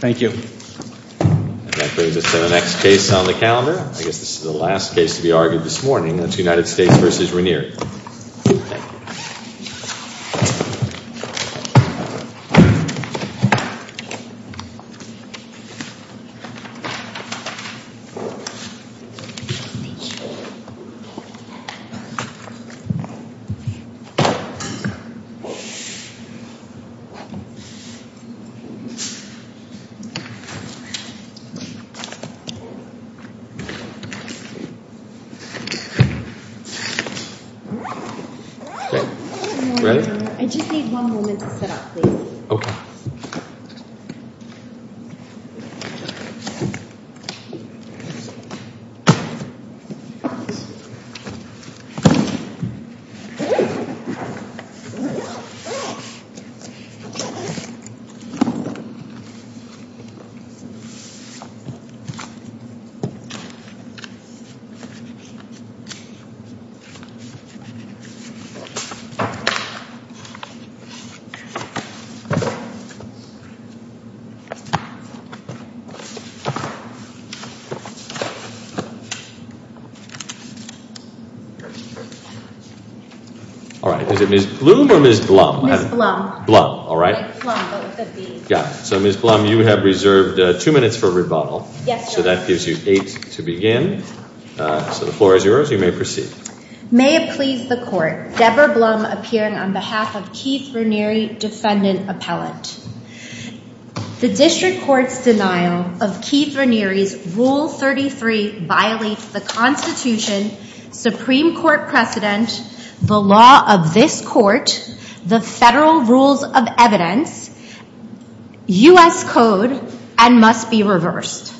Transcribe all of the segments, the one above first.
I guess this is the last case to be argued this morning, that's United States v. Raniere. I just need one moment to set up please. All right, is it Ms. Blum or Ms. Blum? Ms. Blum. Blum, all right. Yeah, so Ms. Blum you have reserved two minutes for rebuttal. Yes, sir. So that gives you eight to begin. So the floor is yours, you may proceed. May it please the court, Deborah Blum appearing on behalf of Keith Raniere, defendant appellant. The district court's denial of Keith Raniere's Rule 33 violates the Constitution, Supreme Court precedent, the law of this court, the federal rules of evidence, U.S. code, and must be reversed.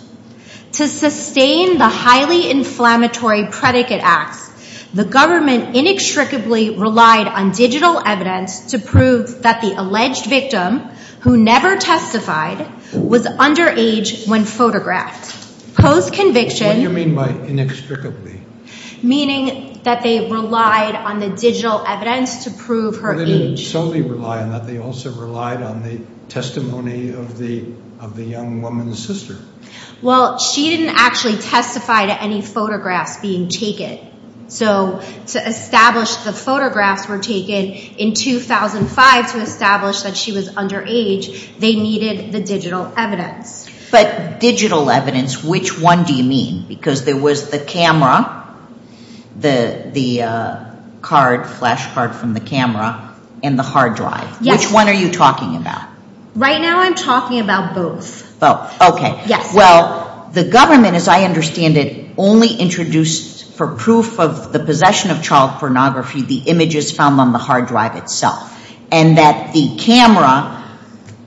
To sustain the highly inflammatory predicate acts, the government inextricably relied on digital evidence to prove that the alleged victim, who never testified, was underage when photographed. What do you mean by inextricably? Meaning that they relied on the digital evidence to prove her age. They didn't solely rely on that. They also relied on the testimony of the young woman's sister. Well, she didn't actually testify to any photographs being taken. So to establish the photographs were taken in 2005 to establish that she was underage, they needed the digital evidence. But digital evidence, which one do you mean? Because there was the camera, the card, flash card from the camera, and the hard drive. Yes. Which one are you talking about? Right now I'm talking about both. Both, okay. Yes. Well, the government, as I understand it, only introduced for proof of the possession of child pornography the images found on the hard drive itself. And that the camera,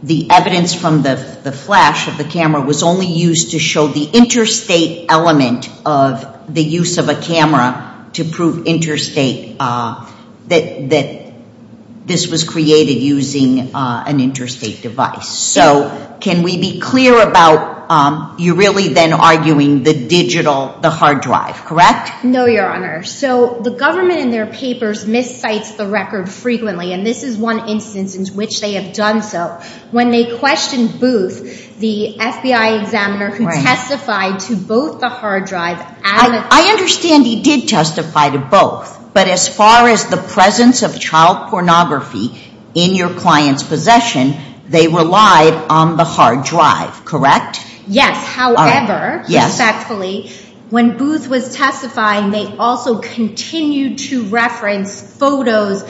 the evidence from the flash of the camera was only used to show the interstate element of the use of a camera to prove interstate, that this was created using an interstate device. So can we be clear about you really then arguing the digital, the hard drive, correct? No, Your Honor. So the government in their papers miscites the record frequently. And this is one instance in which they have done so. When they questioned Booth, the FBI examiner who testified to both the hard drive. I understand he did testify to both. But as far as the presence of child pornography in your client's possession, they relied on the hard drive, correct? Yes. However, respectfully, when Booth was testifying, they also continued to reference photos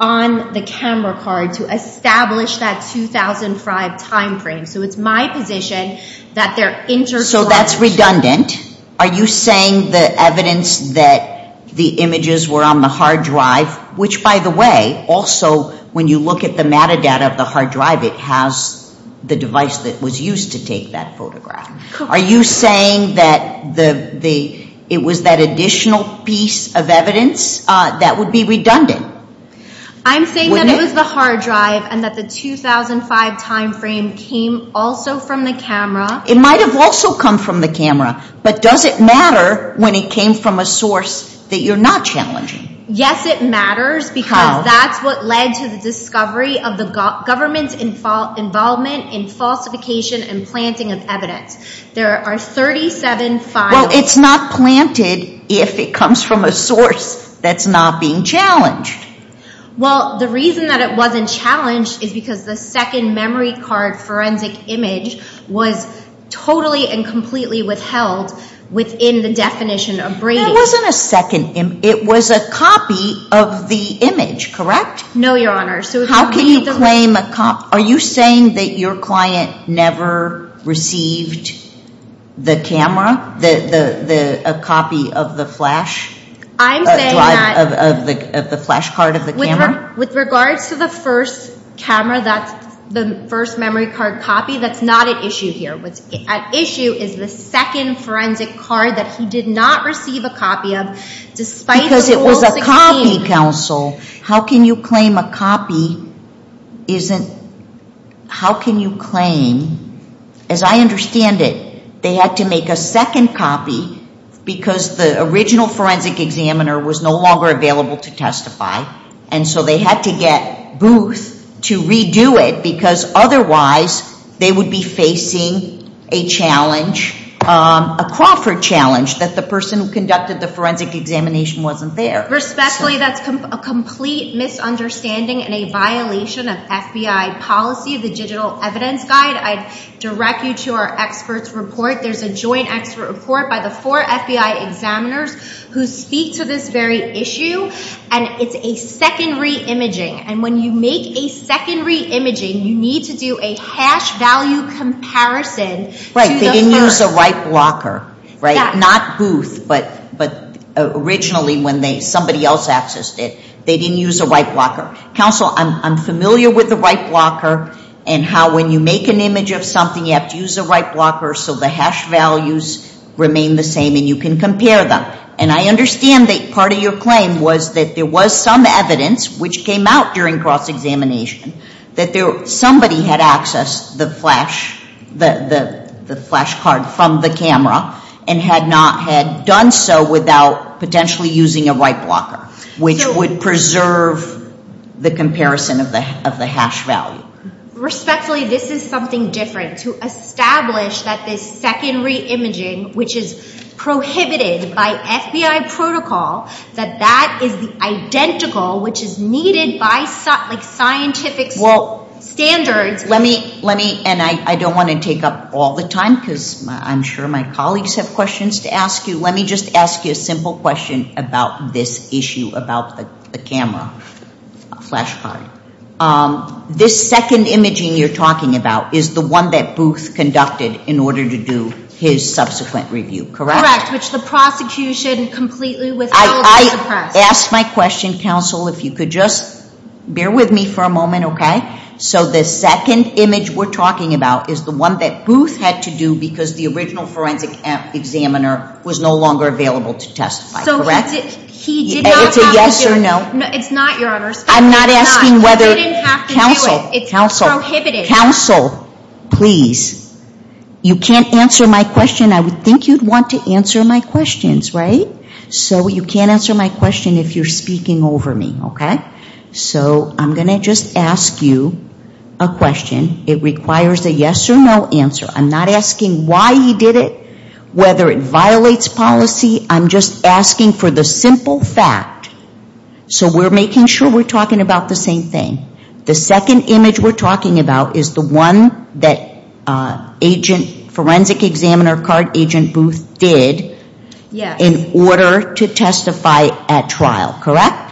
on the camera card to establish that 2005 time frame. So it's my position that they're intercorrect. So that's redundant. Are you saying the evidence that the images were on the hard drive, which by the way, also when you look at the metadata of the hard drive, it has the device that was used to take that photograph. Correct. Are you saying that it was that additional piece of evidence that would be redundant? I'm saying that it was the hard drive and that the 2005 time frame came also from the camera. It might have also come from the camera. But does it matter when it came from a source that you're not challenging? Yes, it matters because that's what led to the discovery of the government's involvement in falsification and planting of evidence. There are 37 files. Well, it's not planted if it comes from a source that's not being challenged. Well, the reason that it wasn't challenged is because the second memory card forensic image was totally and completely withheld within the definition of braiding. That wasn't a second image. It was a copy of the image, correct? No, Your Honor. Are you saying that your client never received the camera, a copy of the flash drive, of the flash card of the camera? With regards to the first camera, the first memory card copy, that's not at issue here. What's at issue is the second forensic card that he did not receive a copy of. Because it was a copy, counsel. How can you claim a copy isn't – how can you claim – as I understand it, they had to make a second copy because the original forensic examiner was no longer available to testify. And so they had to get Booth to redo it because otherwise they would be facing a challenge, a Crawford challenge, that the person who conducted the forensic examination wasn't there. Respectfully, that's a complete misunderstanding and a violation of FBI policy, the Digital Evidence Guide. I'd direct you to our experts report. There's a joint expert report by the four FBI examiners who speak to this very issue, and it's a second re-imaging. And when you make a second re-imaging, you need to do a hash value comparison to the first. They didn't use a right blocker, right? Not Booth, but originally when somebody else accessed it, they didn't use a right blocker. Counsel, I'm familiar with the right blocker and how when you make an image of something, you have to use a right blocker so the hash values remain the same and you can compare them. And I understand that part of your claim was that there was some evidence which came out during cross-examination that somebody had accessed the flash card from the camera and had not had done so without potentially using a right blocker, which would preserve the comparison of the hash value. Respectfully, this is something different. To establish that this second re-imaging, which is prohibited by FBI protocol, that that is identical, which is needed by scientific standards. Let me, and I don't want to take up all the time because I'm sure my colleagues have questions to ask you. Let me just ask you a simple question about this issue about the camera flash card. This second imaging you're talking about is the one that Booth conducted in order to do his subsequent review, correct? Correct, which the prosecution completely withheld from the press. I asked my question, counsel, if you could just bear with me for a moment, okay? So the second image we're talking about is the one that Booth had to do because the original forensic examiner was no longer available to testify, correct? So he did not have to do it. It's a yes or no? It's not, Your Honor. I'm not asking whether. He didn't have to do it. Counsel, counsel. It's prohibited. Counsel, please. You can't answer my question. I would think you'd want to answer my questions, right? So you can't answer my question if you're speaking over me, okay? So I'm going to just ask you a question. It requires a yes or no answer. I'm not asking why he did it, whether it violates policy. I'm just asking for the simple fact. So we're making sure we're talking about the same thing. The second image we're talking about is the one that agent, forensic examiner card agent Booth did in order to testify at trial, correct?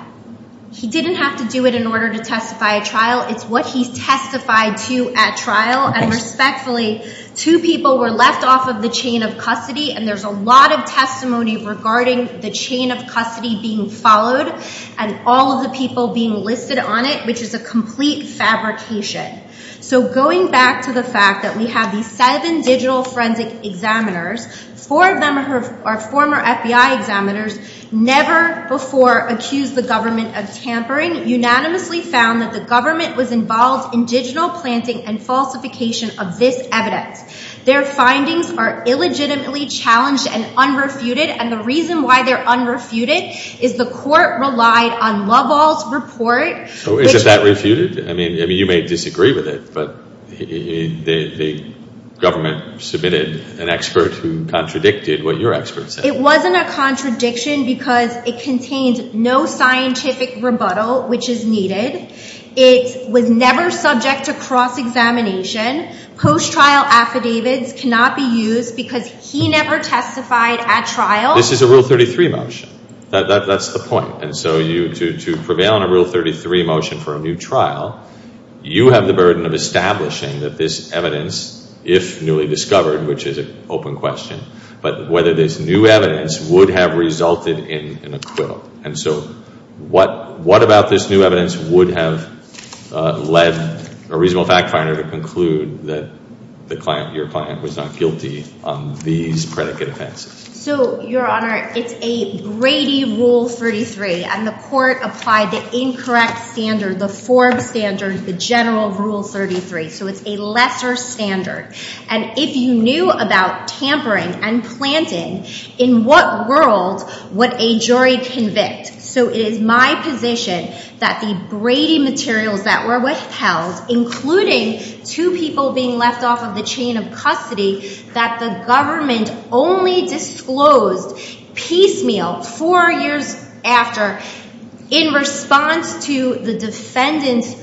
He didn't have to do it in order to testify at trial. It's what he testified to at trial, and respectfully, two people were left off of the chain of custody, and there's a lot of testimony regarding the chain of custody being followed and all of the people being listed on it, which is a complete fabrication. So going back to the fact that we have these seven digital forensic examiners, four of them are former FBI examiners, never before accused the government of tampering, unanimously found that the government was involved in digital planting and falsification of this evidence. Their findings are illegitimately challenged and unrefuted, and the reason why they're unrefuted is the court relied on Loveall's report. So isn't that refuted? I mean, you may disagree with it, but the government submitted an expert who contradicted what your expert said. It wasn't a contradiction because it contained no scientific rebuttal, which is needed. It was never subject to cross-examination. Post-trial affidavits cannot be used because he never testified at trial. This is a Rule 33 motion. That's the point, and so to prevail on a Rule 33 motion for a new trial, you have the burden of establishing that this evidence, if newly discovered, which is an open question, but whether this new evidence would have resulted in an acquittal. And so what about this new evidence would have led a reasonable fact finder to conclude that your client was not guilty on these predicate offenses? So, Your Honor, it's a Brady Rule 33, and the court applied the incorrect standard, the Forbes standard, the general Rule 33. So it's a lesser standard. And if you knew about tampering and planting, in what world would a jury convict? So it is my position that the Brady materials that were withheld, including two people being left off of the chain of custody that the government only disclosed piecemeal four years after in response to the defendant's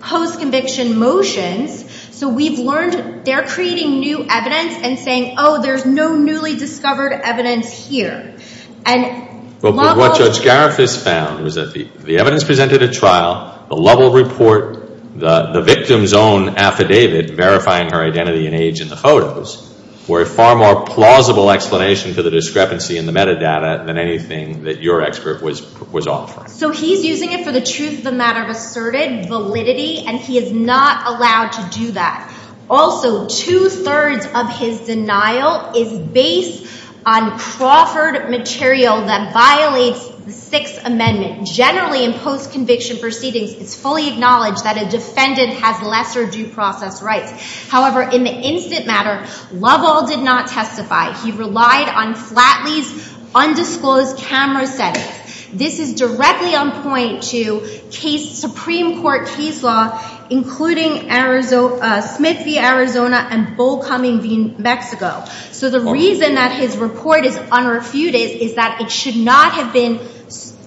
post-conviction motions. So we've learned they're creating new evidence and saying, oh, there's no newly discovered evidence here. But what Judge Garifuss found was that the evidence presented at trial, the Lovell report, the victim's own affidavit verifying her identity and age in the photos, were a far more plausible explanation for the discrepancy in the metadata than anything that your expert was offering. So he's using it for the truth of the matter of asserted validity, and he is not allowed to do that. Also, two-thirds of his denial is based on Crawford material that violates the Sixth Amendment. Generally, in post-conviction proceedings, it's fully acknowledged that a defendant has lesser due process rights. However, in the instant matter, Lovell did not testify. He relied on Flatley's undisclosed camera settings. This is directly on point to Supreme Court case law, including Smith v. Arizona and Bollcoming v. Mexico. So the reason that his report is unrefuted is that it should not have been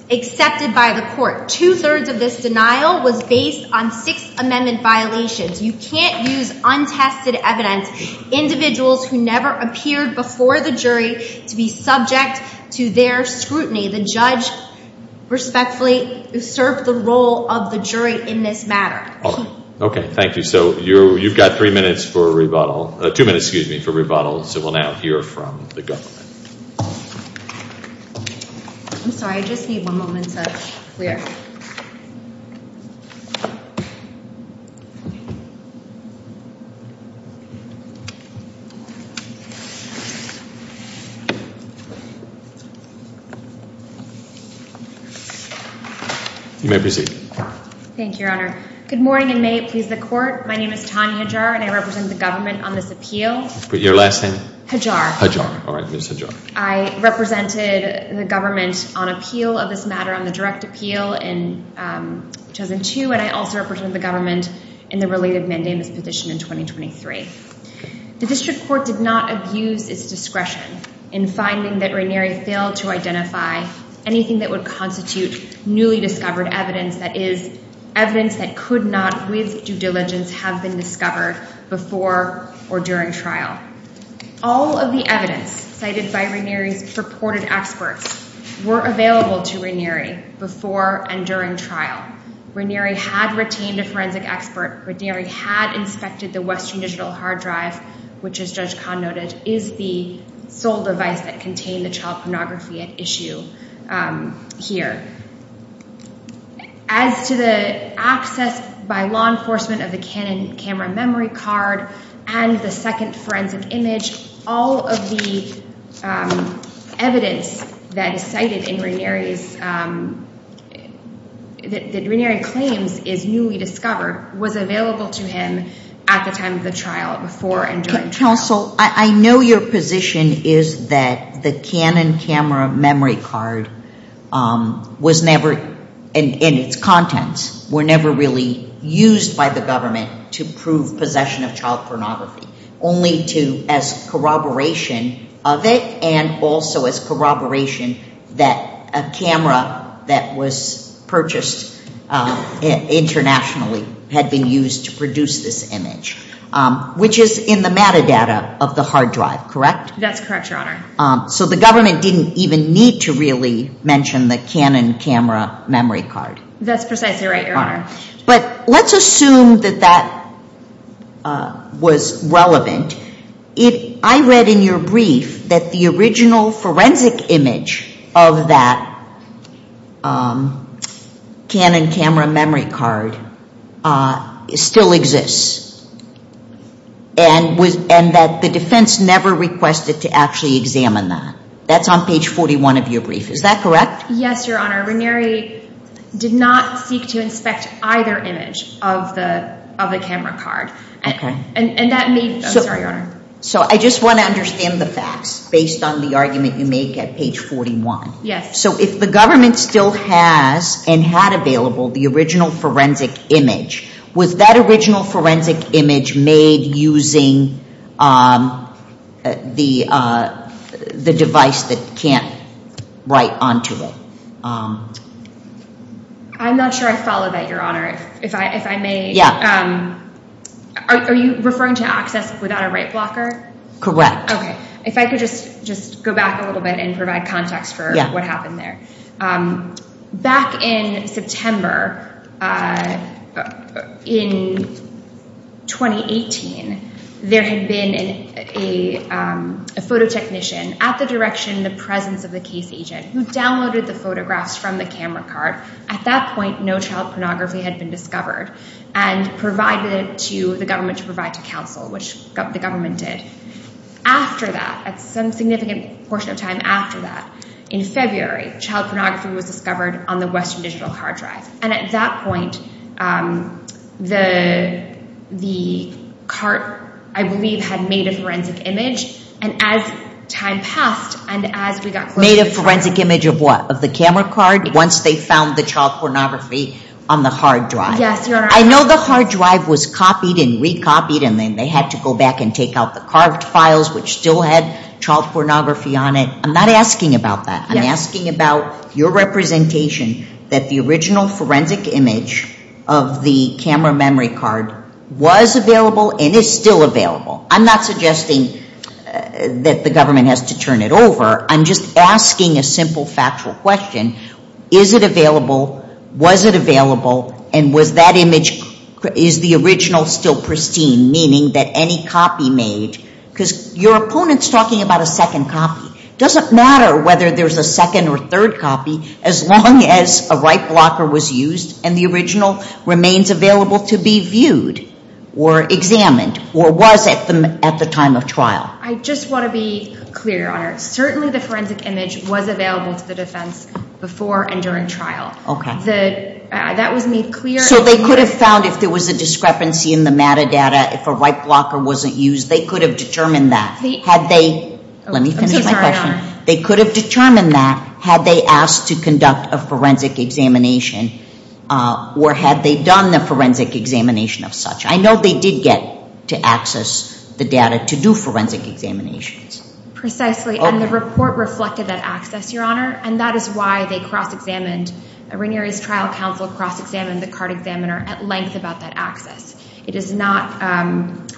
accepted by the court. Two-thirds of this denial was based on Sixth Amendment violations. You can't use untested evidence, individuals who never appeared before the jury to be subject to their scrutiny. The judge respectfully served the role of the jury in this matter. All right. Okay, thank you. So you've got two minutes for rebuttal, so we'll now hear from the government. I'm sorry. I just need one moment to clear. You may proceed. Thank you, Your Honor. Good morning, and may it please the Court. My name is Tanya Hajar, and I represent the government on this appeal. Your last name? Hajar. Hajar. All right, Ms. Hajar. I represented the government on appeal of this matter, on the direct appeal in 2002, and I also represented the government in the related mandamus petition in 2023. The district court did not abuse its discretion in finding that Ranieri failed to identify anything that would constitute newly discovered evidence, that is, evidence that could not, with due diligence, have been discovered before or during trial. All of the evidence cited by Ranieri's purported experts were available to Ranieri before and during trial. Ranieri had retained a forensic expert. Ranieri had inspected the Western Digital hard drive, which, as Judge Kahn noted, is the sole device that contained the child pornography at issue here. As to the access by law enforcement of the Canon camera memory card and the second forensic image, all of the evidence that is cited in Ranieri's, that Ranieri claims is newly discovered, was available to him at the time of the trial, before and during trial. Counsel, I know your position is that the Canon camera memory card was never, and its contents were never really used by the government to prove possession of child pornography, only to, as corroboration of it and also as corroboration that a camera that was purchased internationally had been used to produce this image, which is in the metadata of the hard drive, correct? That's correct, Your Honor. So the government didn't even need to really mention the Canon camera memory card. That's precisely right, Your Honor. But let's assume that that was relevant. I read in your brief that the original forensic image of that Canon camera memory card still exists, and that the defense never requested to actually examine that. That's on page 41 of your brief. Is that correct? Yes, Your Honor. Ranieri did not seek to inspect either image of the camera card. I'm sorry, Your Honor. So I just want to understand the facts based on the argument you make at page 41. Yes. So if the government still has and had available the original forensic image, was that original forensic image made using the device that can't write onto it? I'm not sure I follow that, Your Honor. If I may, are you referring to access without a right blocker? Okay. If I could just go back a little bit and provide context for what happened there. Back in September in 2018, there had been a photo technician at the direction, the presence of the case agent, who downloaded the photographs from the camera card. At that point, no child pornography had been discovered, and provided to the government to provide to counsel, which the government did. After that, at some significant portion of time after that, in February, child pornography was discovered on the Western Digital hard drive. And at that point, the card, I believe, had made a forensic image. And as time passed, and as we got closer to the trial… Made a forensic image of what? Of the camera card? Once they found the child pornography on the hard drive. Yes, Your Honor. I know the hard drive was copied and recopied, and then they had to go back and take out the carved files, which still had child pornography on it. I'm not asking about that. I'm asking about your representation that the original forensic image of the camera memory card was available and is still available. I'm not suggesting that the government has to turn it over. I'm just asking a simple factual question. Is it available? Was it available? And is the original still pristine, meaning that any copy made… Because your opponent's talking about a second copy. It doesn't matter whether there's a second or third copy, as long as a right blocker was used, and the original remains available to be viewed, or examined, or was at the time of trial. I just want to be clear, Your Honor. Certainly the forensic image was available to the defense before and during trial. That was made clear. So they could have found if there was a discrepancy in the metadata, if a right blocker wasn't used, they could have determined that. Let me finish my question. They could have determined that had they asked to conduct a forensic examination or had they done the forensic examination of such. I know they did get to access the data to do forensic examinations. Precisely, and the report reflected that access, Your Honor, and that is why they cross-examined. Ranieri's trial counsel cross-examined the card examiner at length about that access. It is not…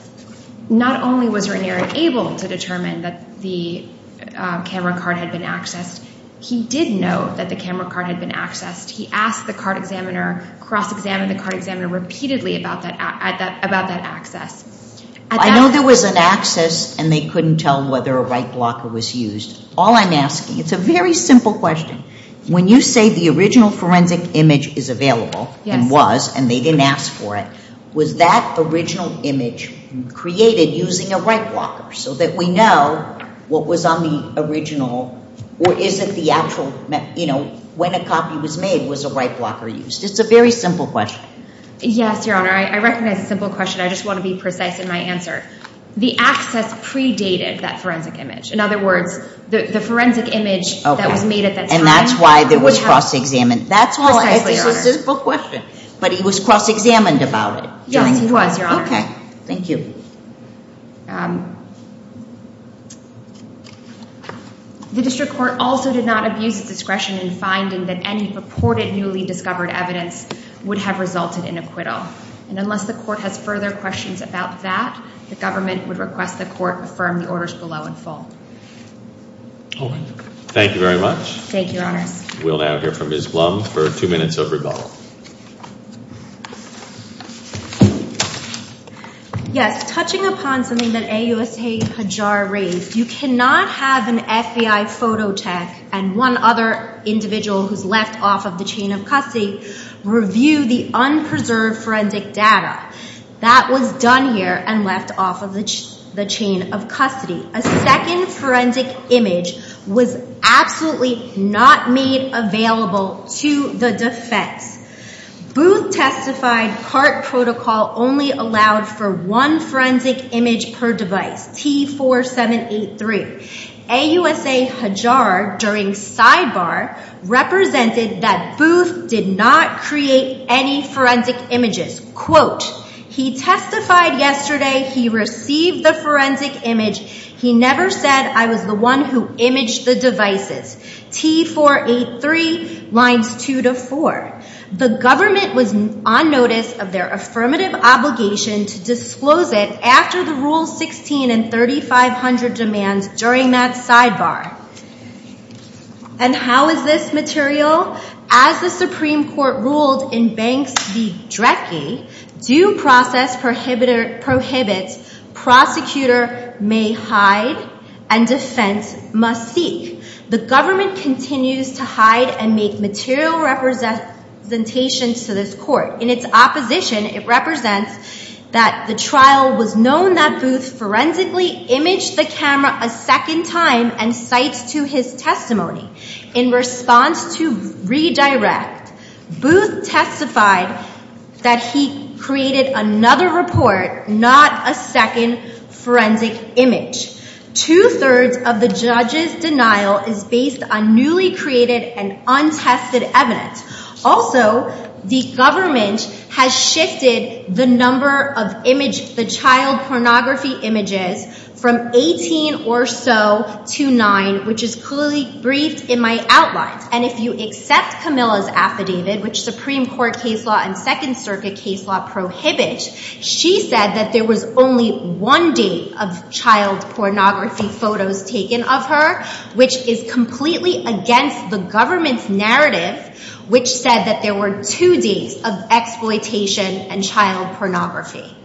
Not only was Ranieri able to determine that the camera card had been accessed, he did know that the camera card had been accessed. He asked the card examiner, cross-examined the card examiner repeatedly about that access. I know there was an access and they couldn't tell whether a right blocker was used. All I'm asking, it's a very simple question, when you say the original forensic image is available and was and they didn't ask for it, was that original image created using a right blocker so that we know what was on the original or is it the actual, you know, when a copy was made, was a right blocker used? It's a very simple question. Yes, Your Honor. I recognize it's a simple question. I just want to be precise in my answer. The access predated that forensic image. In other words, the forensic image that was made at that time… And that's why there was cross-examined. That's why… Precisely, Your Honor. It's a simple question, but he was cross-examined about it. Yes, he was, Your Honor. Okay. Thank you. The district court also did not abuse its discretion in finding that any purported newly discovered evidence would have resulted in acquittal. And unless the court has further questions about that, the government would request the court affirm the orders below in full. All right. Thank you very much. Thank you, Your Honors. We'll now hear from Ms. Blum for two minutes of rebuttal. Yes, touching upon something that AUSA Hajjar raised, you cannot have an FBI photo tech and one other individual who's left off of the chain of custody review the unpreserved forensic data. That was done here and left off of the chain of custody. A second forensic image was absolutely not made available to the defense. Booth testified CART protocol only allowed for one forensic image per device, T4783. AUSA Hajjar, during sidebar, represented that Booth did not create any forensic images. Quote, he testified yesterday he received the forensic image. He never said I was the one who imaged the devices. T483 lines two to four. The government was on notice of their affirmative obligation to disclose it after the Rule 16 and 3500 demands during that sidebar. And how is this material? As the Supreme Court ruled in Banks v. Drecke, due process prohibits prosecutor may hide and defense must seek. The government continues to hide and make material representations to this court. In its opposition, it represents that the trial was known that Booth forensically imaged the camera a second time and cites to his testimony. In response to redirect, Booth testified that he created another report, not a second forensic image. Two-thirds of the judge's denial is based on newly created and untested evidence. Also, the government has shifted the number of image, the child pornography images from 18 or so to nine, which is clearly briefed in my outlines. And if you accept Camilla's affidavit, which Supreme Court case law and Second Circuit case law prohibit, she said that there was only one date of child pornography photos taken of her, which is completely against the government's narrative, which said that there were two dates of exploitation and child pornography.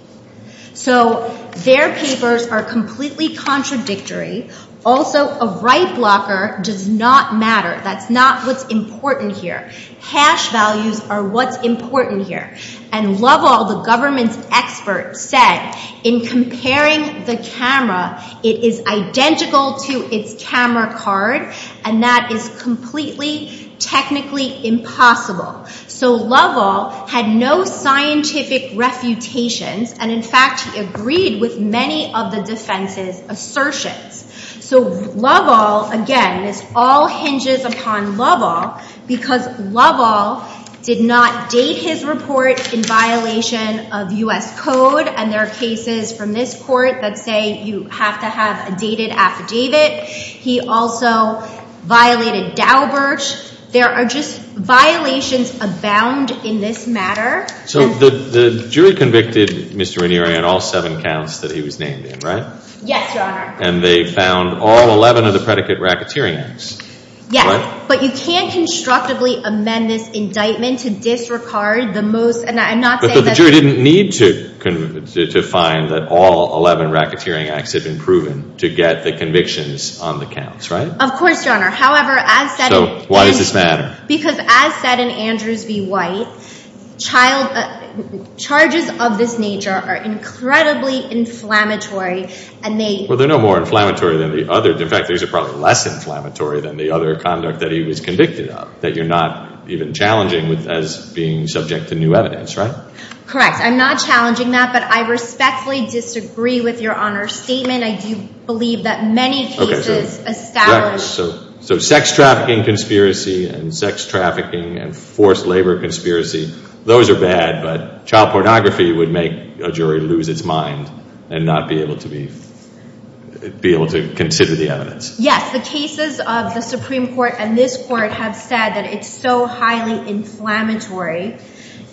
So their papers are completely contradictory. Also, a right blocker does not matter. That's not what's important here. Hash values are what's important here. And Loveall, the government's expert, said, in comparing the camera, it is identical to its camera card, and that is completely technically impossible. So Loveall had no scientific refutations. And, in fact, he agreed with many of the defense's assertions. So Loveall, again, this all hinges upon Loveall because Loveall did not date his report in violation of U.S. code and there are cases from this court that say you have to have a dated affidavit. He also violated Daubert. There are just violations abound in this matter. So the jury convicted Mr. Ranieri on all seven counts that he was named in, right? Yes, Your Honor. And they found all 11 of the predicate racketeering acts, correct? Yes, but you can't constructively amend this indictment to disregard the most— But the jury didn't need to find that all 11 racketeering acts had been proven to get the convictions on the counts, right? Of course, Your Honor. However, as said— So why does this matter? Because as said in Andrews v. White, charges of this nature are incredibly inflammatory and they— Well, they're no more inflammatory than the other— in fact, these are probably less inflammatory than the other conduct that he was convicted of, that you're not even challenging as being subject to new evidence, right? Correct. I'm not challenging that, but I respectfully disagree with Your Honor's statement. I do believe that many cases establish— So sex trafficking conspiracy and sex trafficking and forced labor conspiracy, those are bad, but child pornography would make a jury lose its mind and not be able to consider the evidence. Yes, the cases of the Supreme Court and this court have said that it's so highly inflammatory.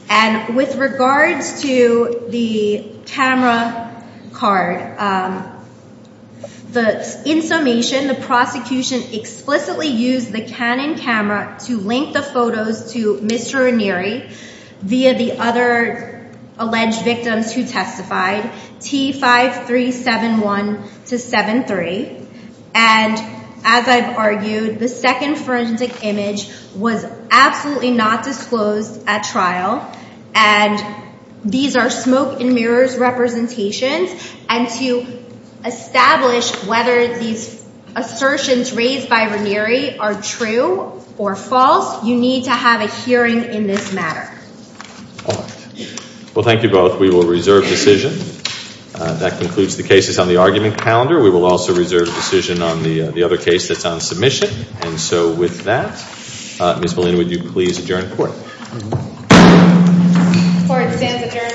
And with regards to the camera card, the—in summation, the prosecution explicitly used the Canon camera to link the photos to Mr. Ranieri via the other alleged victims who testified, T5371-73, and as I've argued, the second forensic image was absolutely not disclosed at trial, and these are smoke and mirrors representations, and to establish whether these assertions raised by Ranieri are true or false, you need to have a hearing in this matter. All right. Well, thank you both. We will reserve decision. That concludes the cases on the argument calendar. We will also reserve decision on the other case that's on submission. And so with that, Ms. Molina, would you please adjourn the court? Court stands adjourned. Thank you. Thank you.